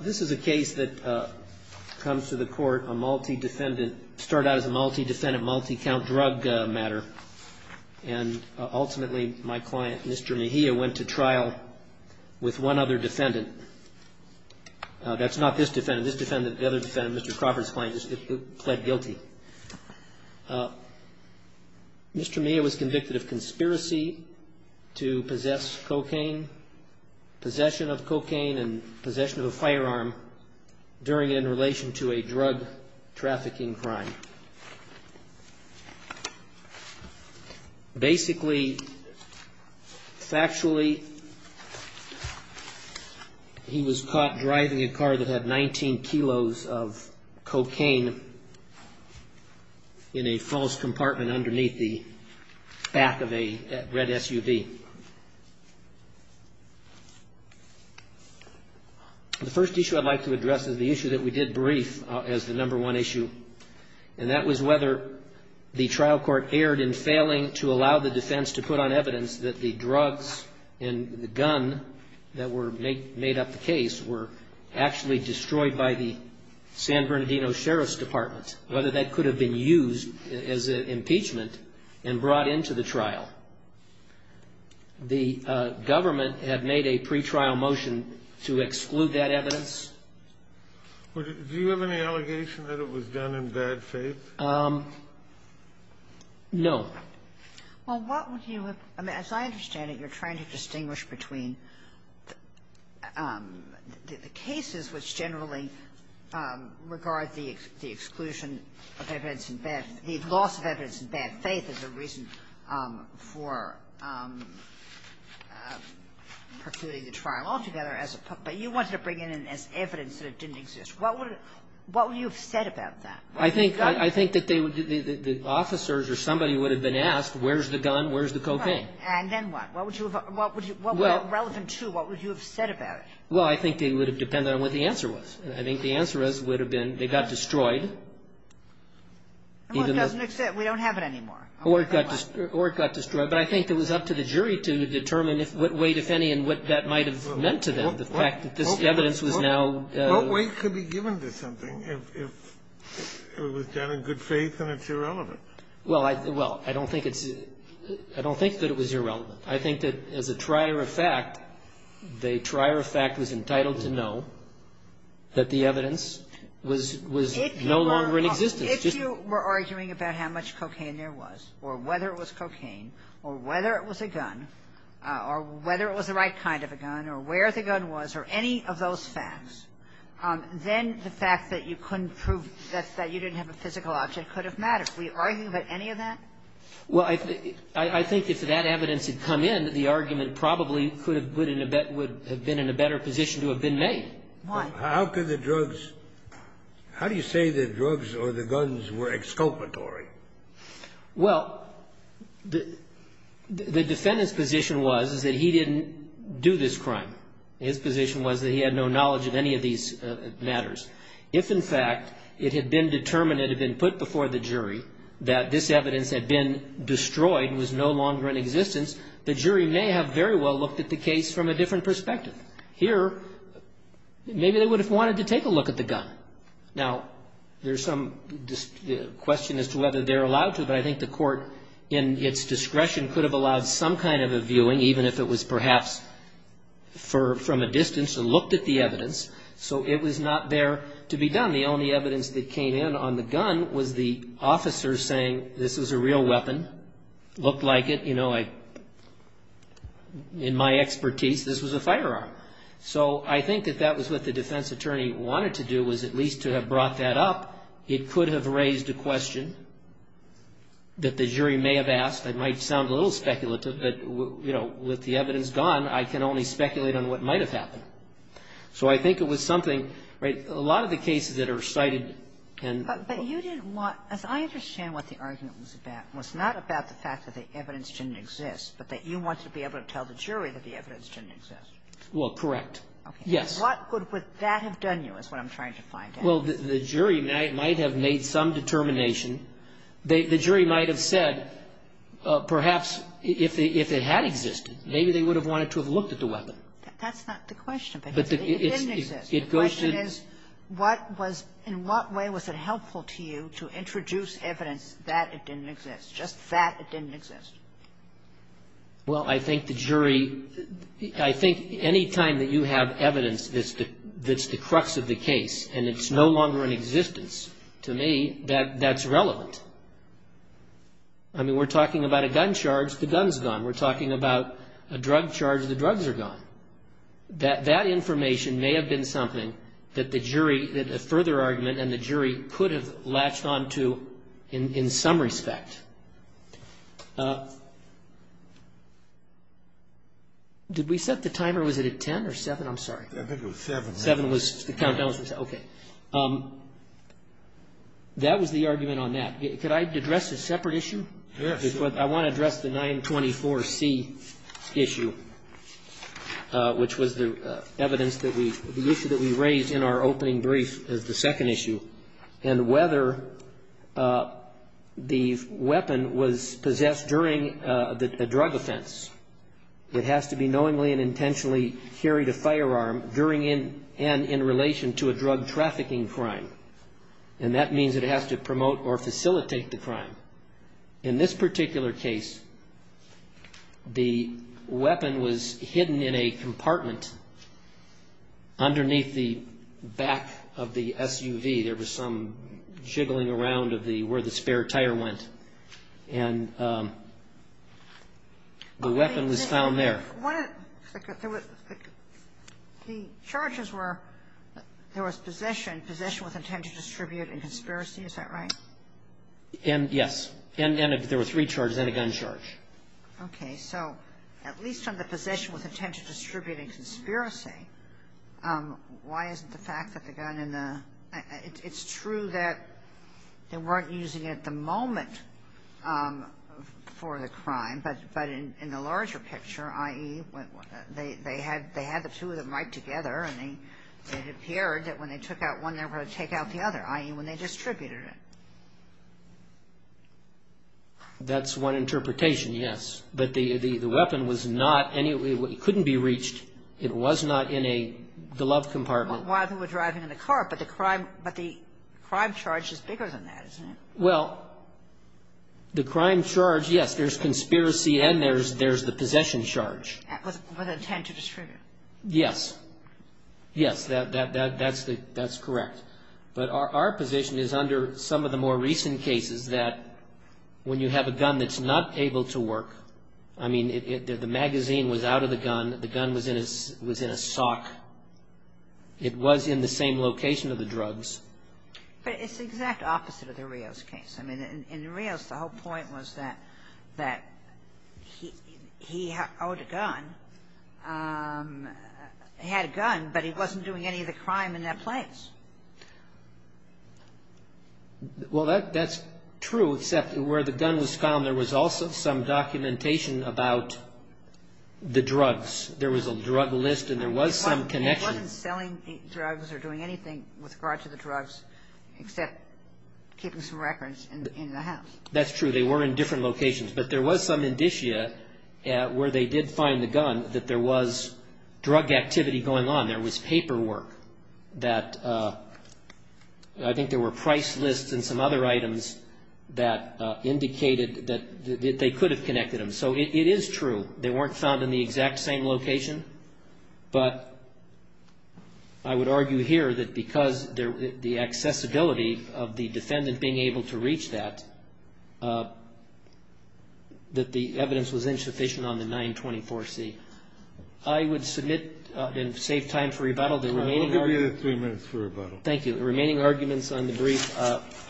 this is a case that comes to the court a multi-defendant start out as a multi-defendant multi-count drug matter and ultimately my client mr. Mejia went to trial with one other defendant that's not this defendant this defendant the other defendant mr. Crawford's client pled guilty mr. Mejia was convicted of possession of a firearm during in relation to a drug trafficking crime basically factually he was caught driving a car that had 19 kilos of the first issue I'd like to address is the issue that we did brief as the number one issue and that was whether the trial court erred in failing to allow the defense to put on evidence that the drugs and the gun that were made made up the case were actually destroyed by the San Bernardino Sheriff's Department whether that could have been used as an impeachment and brought into the trial the government have made a pre-trial motion to exclude that evidence do you have any allegation that it was done in bad faith no well what would you have as I understand it you're trying to distinguish between the cases which generally regard the exclusion of evidence in bad faith the loss of evidence in bad faith is a reason for what would you have said about that I think I think that they would officers or somebody would have been asked where's the gun where's the cocaine and then what would you have what would you what would you have said about it well I think they would have depended on what the answer was I think the answer is would have been they got destroyed we don't have it anymore or it got destroyed but I think it was up to the jury to decide what weight if any and what that might have meant to them the fact that this evidence was now what weight could be given to something if it was done in good faith and it's irrelevant well I don't think it's I don't think that it was irrelevant I think that as a trier of fact the trier of fact was entitled to know that the evidence was no longer in existence if you were arguing about how much cocaine there was or whether it was cocaine or whether it was a gun or whether it was the right kind of a gun or where the gun was or any of those facts then the fact that you couldn't prove that you didn't have a physical object could have mattered we argue about any of that well I think if that evidence had come in the argument probably could have been in a better position to have been made how do you say the drugs or the guns were exculpatory well the defendant's position was that he didn't do this crime his position was that he had no knowledge of any of these matters if in fact it had been determined it had been put before the jury that this evidence had been destroyed and was no longer in existence the jury may have very well looked at the case from a different perspective but here maybe they would have wanted to take a look at the gun now there's some question as to whether they're allowed to but I think the court in its discretion could have allowed some kind of a viewing even if it was perhaps from a distance and looked at the evidence so it was not there to be done the only evidence that came in on the gun was the officer saying this was a real weapon looked like it you know in my expertise this was a firearm so I think that that was what the defense attorney wanted to do was at least to have brought that up it could have raised a question that the jury may have asked I might sound a little speculative but you know with the evidence gone I can only speculate on what might have happened so I think it was something right a lot of the cases that are cited and but you didn't want as I understand what the argument was a bad was not about the fact that the evidence didn't exist but that you want to be able to tell the jury that the evidence didn't exist well correct yes what good would that have done you is what I'm trying to find out well the jury might have made some determination they the jury might have said perhaps if they if it had existed maybe they would have wanted to have looked at the weapon that's not the question but the question is what was in what way was it helpful to you to introduce evidence that it didn't exist just that it didn't exist well I think the jury I think anytime that you have evidence that's the that's the crux of the case and it's no longer in existence to me that that's relevant I mean we're talking about a gun charge the guns gone we're talking about a drug charge the drugs are gone that that information may have been something that the jury that a further argument and the jury could have latched on to in some respect did we set the timer was it at 10 or 7 I'm sorry I think it was 7 7 was the countdown was okay that was the argument on that could I address a separate issue yes I want to address the 924 C issue which was the evidence that we the issue that we raised in our opening brief is the second issue and whether the weapon or the gun was useful to the jury the weapon was possessed during the drug offense it has to be knowingly and intentionally carried a firearm during in and in relation to a drug trafficking crime and that means it has to promote or facilitate the crime in this particular case the weapon was hidden in a compartment underneath the back of the SUV there was some jiggling around of the where the spare tire went and the weapon was found there the charges were there was possession possession with intent to distribute and conspiracy is that right and yes and then if there were three charges and a gun charge okay so at least on the possession with intent to distribute and conspiracy why isn't the fact that the gun in the it's true that they weren't using it at the moment for the crime but but in the larger picture i.e. they had they had the two of them right together and they it appeared that when they took out one they were going to take out the other i.e. when they distributed it that's one interpretation yes but the the weapon was not any way it couldn't be reached it was not in a glove compartment while they were driving in the car but the crime but the crime charge is bigger than that isn't it well the crime charge yes there's conspiracy and there's there's the possession charge with intent to distribute yes yes that that that that's the that's correct but our our position is under some of the more recent cases that when you have a gun that's not able to work I mean it did the magazine was out of the gun the gun was in his was in a sock it was in the same location of the drugs but it's the exact opposite of the Rios case I mean in Rios the whole point was that that he he owed a gun had a gun but he wasn't doing any of the crime in that place well that that's true except where the gun was found there was also some documentation about the drugs there was a drug list and there was some connection it wasn't selling drugs or doing anything with regard to the drugs except keeping some records in the house that's true they were in different locations but there was some indicia where they did find the gun that there was drug activity going on there was paperwork that I think there were price lists and some other items that indicated that they could have connected them so it is true they weren't found in the exact same location but I would argue here that because there the accessibility of the defendant being able to reach that that the evidence was insufficient on the 924 C I would submit and save time for rebuttal the remaining thank you the remaining arguments on the brief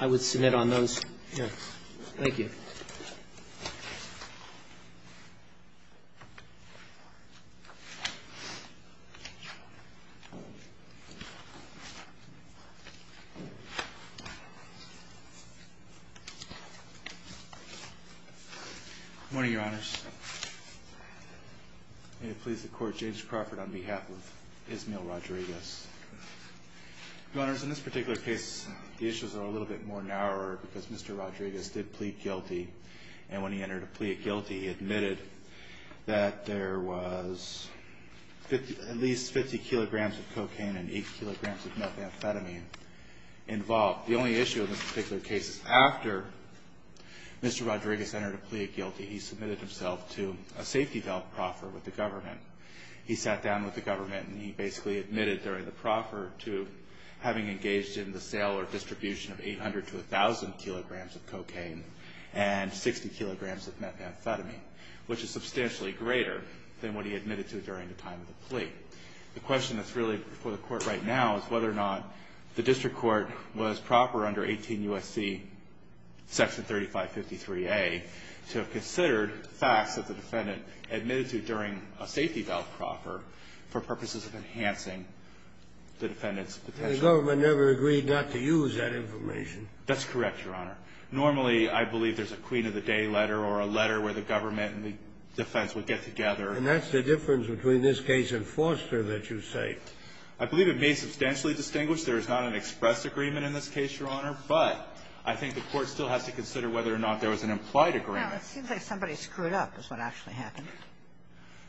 I would submit on those thank you morning your honors may it please the court James Crawford on behalf of Ismael Rodriguez your honors in this particular case the issues are a little bit more narrower because Mr. Rodriguez did plead guilty and when he entered a plea of guilty he admitted that there was at least 50 kilograms of cocaine and 8 kilograms of methamphetamine involved the only issue in this particular case is after Mr. Rodriguez entered a plea of guilty he submitted himself to a safety valve proffer with the government he sat down with the government and he basically admitted during the proffer to having engaged in the sale or distribution of 800 to 1000 kilograms of cocaine and 60 kilograms of methamphetamine which is substantially greater than what he admitted to during the time of the plea the question that is really before the court right now is whether or not the district court was proper under 18 USC section 3553A to have considered facts that the defendant admitted to during a safety valve proffer for purposes of enhancing the defendant's potential the government never agreed not to use that information that's correct your honor normally I believe there's a queen of the day letter or a letter where the government and the defense would get together and that's the difference between this case and foster that you say I believe it may substantially distinguish there is not an express agreement in this case your honor but I think the court still has to consider whether or not there was an implied agreement it seems like somebody screwed up is what actually happened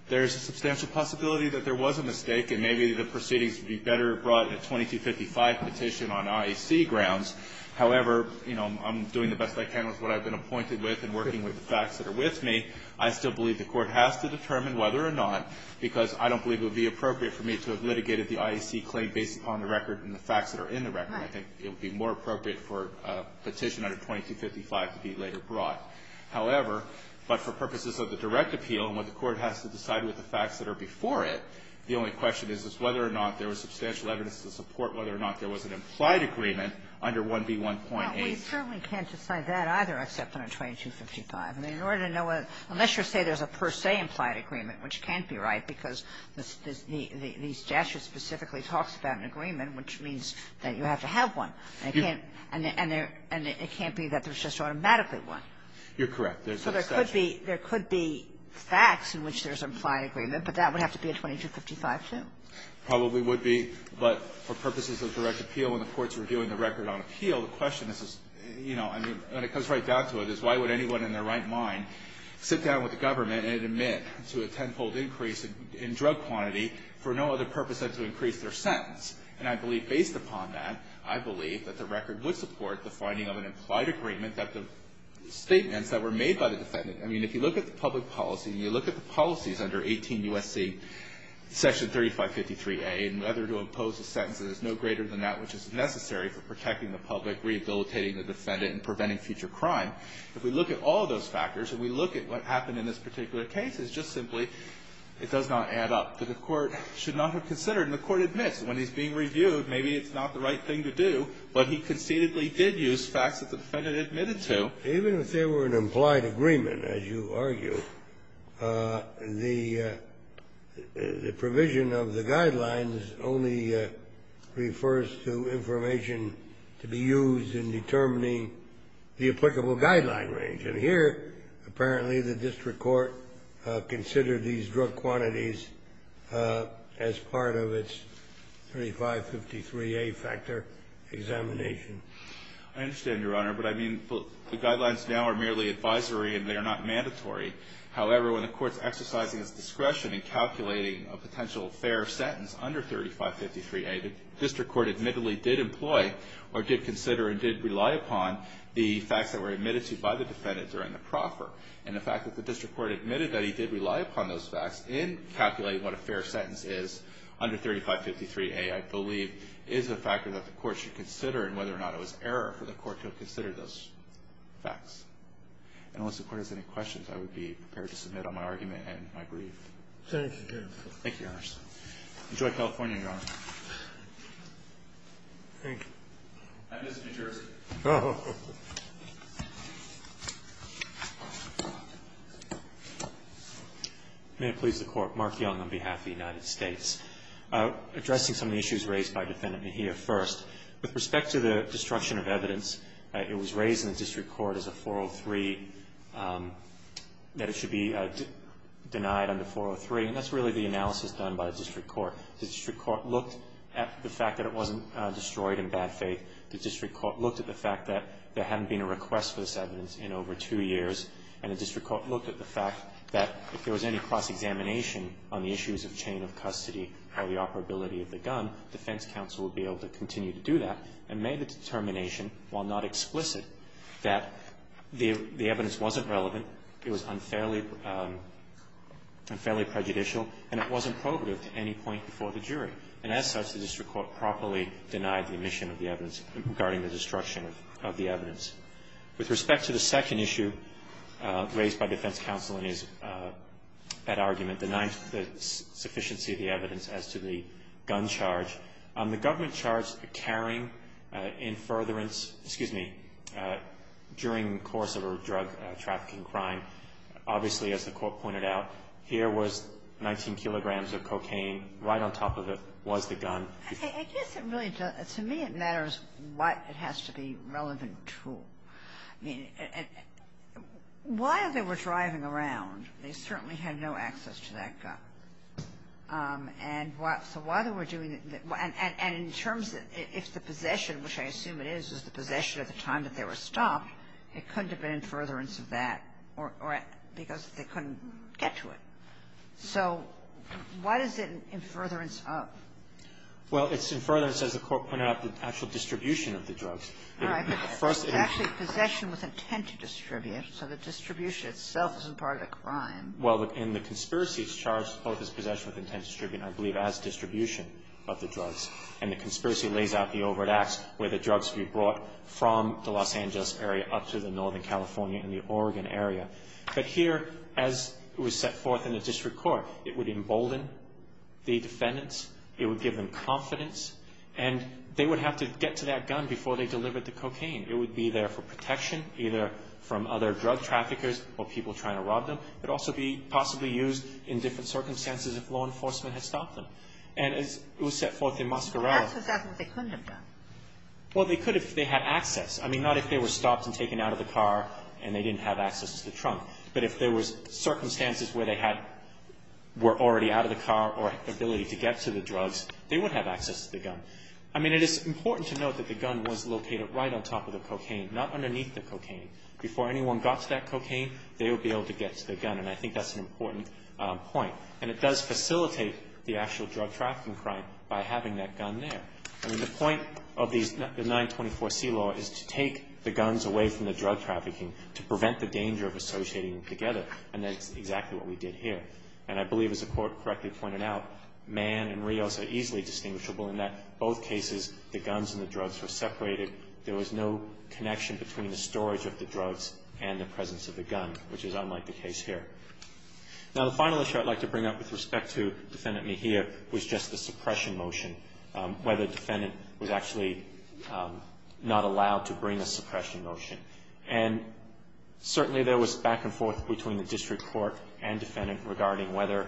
there's a substantial possibility that there was a mistake and maybe the proceedings would be better brought in a 2255 petition on IEC grounds however you know I'm doing the best I can with what I've been appointed with and working with the facts that are with me I still believe the court has to determine whether or not because I don't believe it would be appropriate for me to have litigated the IEC claim based upon the record and the facts that are in the record I think it would be more appropriate for a petition under 2255 to be later brought however but for purposes of the direct appeal and what the court has to decide with the facts that are before it the only question is whether or not there was substantial evidence to support whether or not there was an implied agreement under 1B1.8 we certainly can't decide that either except on a 2255 and in order to know unless you say there's a per se implied agreement which can't be right because these statutes specifically talks about an agreement which means that you have to have one and it can't be that there's just automatically one you're correct so there could be there could be facts in which there's an implied agreement but that would have to be a 2255 too probably would be but for purposes of direct appeal when the court's reviewing the record on appeal the question is you know I mean when it comes right down to it is why would anyone in their right mind sit down with the government and admit to a tenfold increase in drug quantity for no other purpose than to increase their sentence and I believe based upon that I believe that the record would support the finding of an implied agreement that the statements that were made by the defendant I mean if you look at the public policy and you look at the policies under 18 U.S.C. section 3550 3a and whether to impose a sentence that is no greater than that which is necessary for protecting the public rehabilitating the defendant and preventing future crime if we look at all of those factors and we look at what happened in this particular case it's just simply it does not add up that the court should not have considered and the court admits when he's being reviewed maybe it's not the right thing to do but he conceitedly did use facts that the defendant admitted to even if there were an implied agreement as you argue the provision of the guidelines only refers to information to be used in determining the applicable guideline range and here apparently the district court considered these drug quantities as part of its 3553a factor examination I understand your honor but I mean the guidelines now are merely advisory and they are not mandatory however when the court's exercising its discretion in calculating a potential fair sentence under 3553a the district court admittedly did employ or did consider and did rely upon the facts that were admitted to by the defendant during the proffer and the fact that the district court admitted that he did rely upon those facts in calculating what a fair sentence is under 3553a I believe is a factor that the court should consider in whether or not to use in the future. I was error for the court to consider those facts and unless the court has any questions I would be prepared to submit on my argument and my brief. Thank you, your honor. Enjoy California, your honor. Thank you. May it please the court, Mark Young, on behalf of the United States. Addressing some of the issues raised by Defendant Mejia first, with respect to the destruction of evidence, it was raised in the district court as a 403 that it should be denied under 403 and that's really the analysis done by the district court. The district court looked at the fact that it wasn't destroyed in bad faith, the district court looked at the fact that there hadn't been a request for this evidence in over two years, and the district court looked at the fact that if there was any cross-examination on the issues of chain of custody, how the operability of the gun, defense counsel would be able to continue to do that, and made the determination, while not explicit, that the evidence wasn't relevant, it was unfairly prejudicial, and it wasn't probative to any point before the jury. And as such, the district court properly denied the omission of the evidence regarding the destruction of the evidence. With respect to the second issue raised by defense counsel in his argument, denying the sufficiency of the evidence as to the gun charge, the government charged a carrying in furtherance, excuse me, during the course of a drug trafficking crime, obviously, as the Court pointed out, here was 19 kilograms of cocaine, right on top of it was the gun. I guess it really doesn't to me it matters what it has to be relevant to. I mean, while they were driving around, they certainly had no access to that gun. And so while they were doing that, and in terms of if the possession, which I assume it is, is the possession at the time that they were stopped, it couldn't have been in furtherance of that, or because they couldn't get to it. So why is it in furtherance of? Well, it's in furtherance, as the Court pointed out, the actual distribution of the drugs. All right. But first of all, it's actually possession with intent to distribute, so the distribution itself isn't part of the crime. Well, in the conspiracy, it's charged both as possession with intent to distribute, I believe, as distribution of the drugs. And the conspiracy lays out the overt acts where the drugs would be brought from the Los Angeles area up to the northern California and the Oregon area. But here, as it was set forth in the district court, it would embolden the defendants. It would give them confidence. And they would have to get to that gun before they delivered the cocaine. It would be there for protection, either from other drug traffickers or people trying to rob them. It would also be possibly used in different circumstances if law enforcement had stopped them. And as it was set forth in Mascarella. Well, that's what they couldn't have done. Well, they could if they had access. I mean, not if they were stopped and taken out of the car and they didn't have access to the trunk. But if there was circumstances where they were already out of the car or had the ability to get to the drugs, they would have access to the gun. I mean, it is important to note that the gun was located right on top of the cocaine, not underneath the cocaine. Before anyone got to that cocaine, they would be able to get to the gun. And I think that's an important point. And it does facilitate the actual drug trafficking crime by having that gun there. I mean, the point of the 924C law is to take the guns away from the drug trafficking to prevent the danger of associating them together. And that's exactly what we did here. And I believe, as the Court correctly pointed out, Mann and Rios are easily distinguishable in that both cases, the guns and the drugs were separated. There was no connection between the storage of the drugs and the presence of the gun, which is unlike the case here. Now, the final issue I'd like to bring up with respect to Defendant Mejia was just the suppression motion. Whether the defendant was actually not allowed to bring a suppression motion. And certainly, there was back and forth between the district court and defendant regarding whether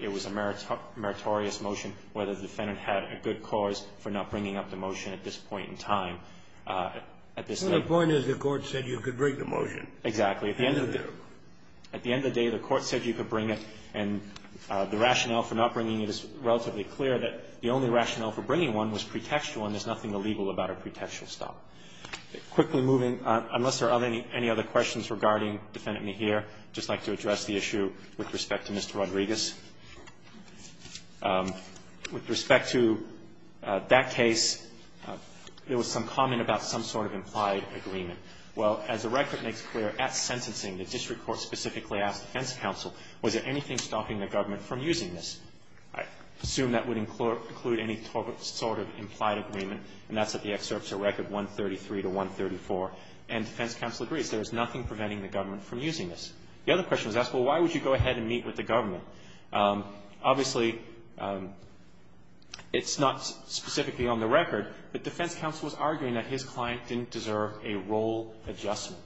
it was a meritorious motion, whether the defendant had a good cause for not bringing up the motion at this point in time. At this point in time. The point is the court said you could bring the motion. Exactly. At the end of the day, the court said you could bring it. And the rationale for not bringing it is relatively clear that the only rationale for bringing one was pretextual, and there's nothing illegal about a pretextual stop. Quickly moving, unless there are any other questions regarding Defendant Mejia, I'd just like to address the issue with respect to Mr. Rodriguez. With respect to that case, there was some comment about some sort of implied agreement. Well, as the record makes clear, at sentencing, the district court specifically asked defense counsel, was there anything stopping the government from using this? I assume that would include any sort of implied agreement, and that's at the excerpts of record 133 to 134, and defense counsel agrees. There is nothing preventing the government from using this. The other question was asked, well, why would you go ahead and meet with the government? Obviously, it's not specifically on the record, but defense counsel was arguing that his client didn't deserve a role adjustment.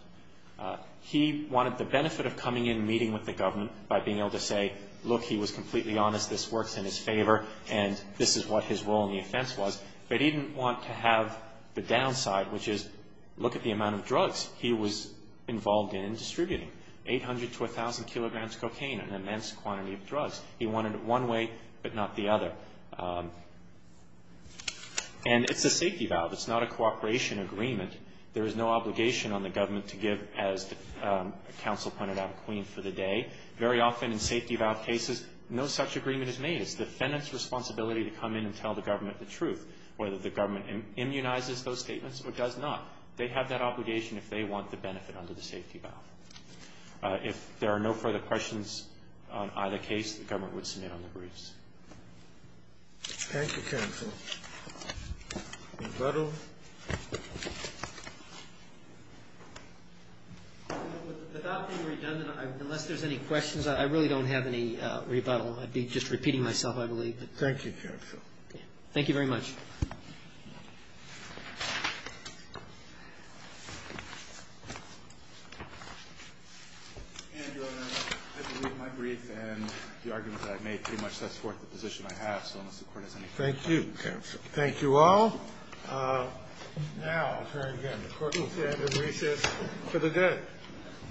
He wanted the benefit of coming in and meeting with the government by being able to say, look, he was completely honest, this works in his favor, and this is what his role in the offense was. But he didn't want to have the downside, which is, look at the amount of drugs he was involved in distributing. 800 to 1,000 kilograms cocaine, an immense quantity of drugs. He wanted it one way, but not the other. And it's a safety valve. It's not a cooperation agreement. There is no obligation on the government to give, as counsel pointed out, a queen for the day. Very often in safety valve cases, no such agreement is made. It's the defendant's responsibility to come in and tell the government the truth, whether the government immunizes those statements or does not. They have that obligation if they want the benefit under the safety valve. If there are no further questions on either case, the government would submit on the briefs. Thank you, counsel. Rebuttal. Without being redundant, unless there's any questions, I really don't have any rebuttal. I'd be just repeating myself, I believe. Thank you, counsel. Thank you very much. And your honor, I believe my brief and the argument that I've made pretty much sets forth the position I have, so unless the court has any questions, I'll be careful. Thank you. Thank you all. Now, I'll turn again. The court will stand in recess for the day. Thank you. Thank you.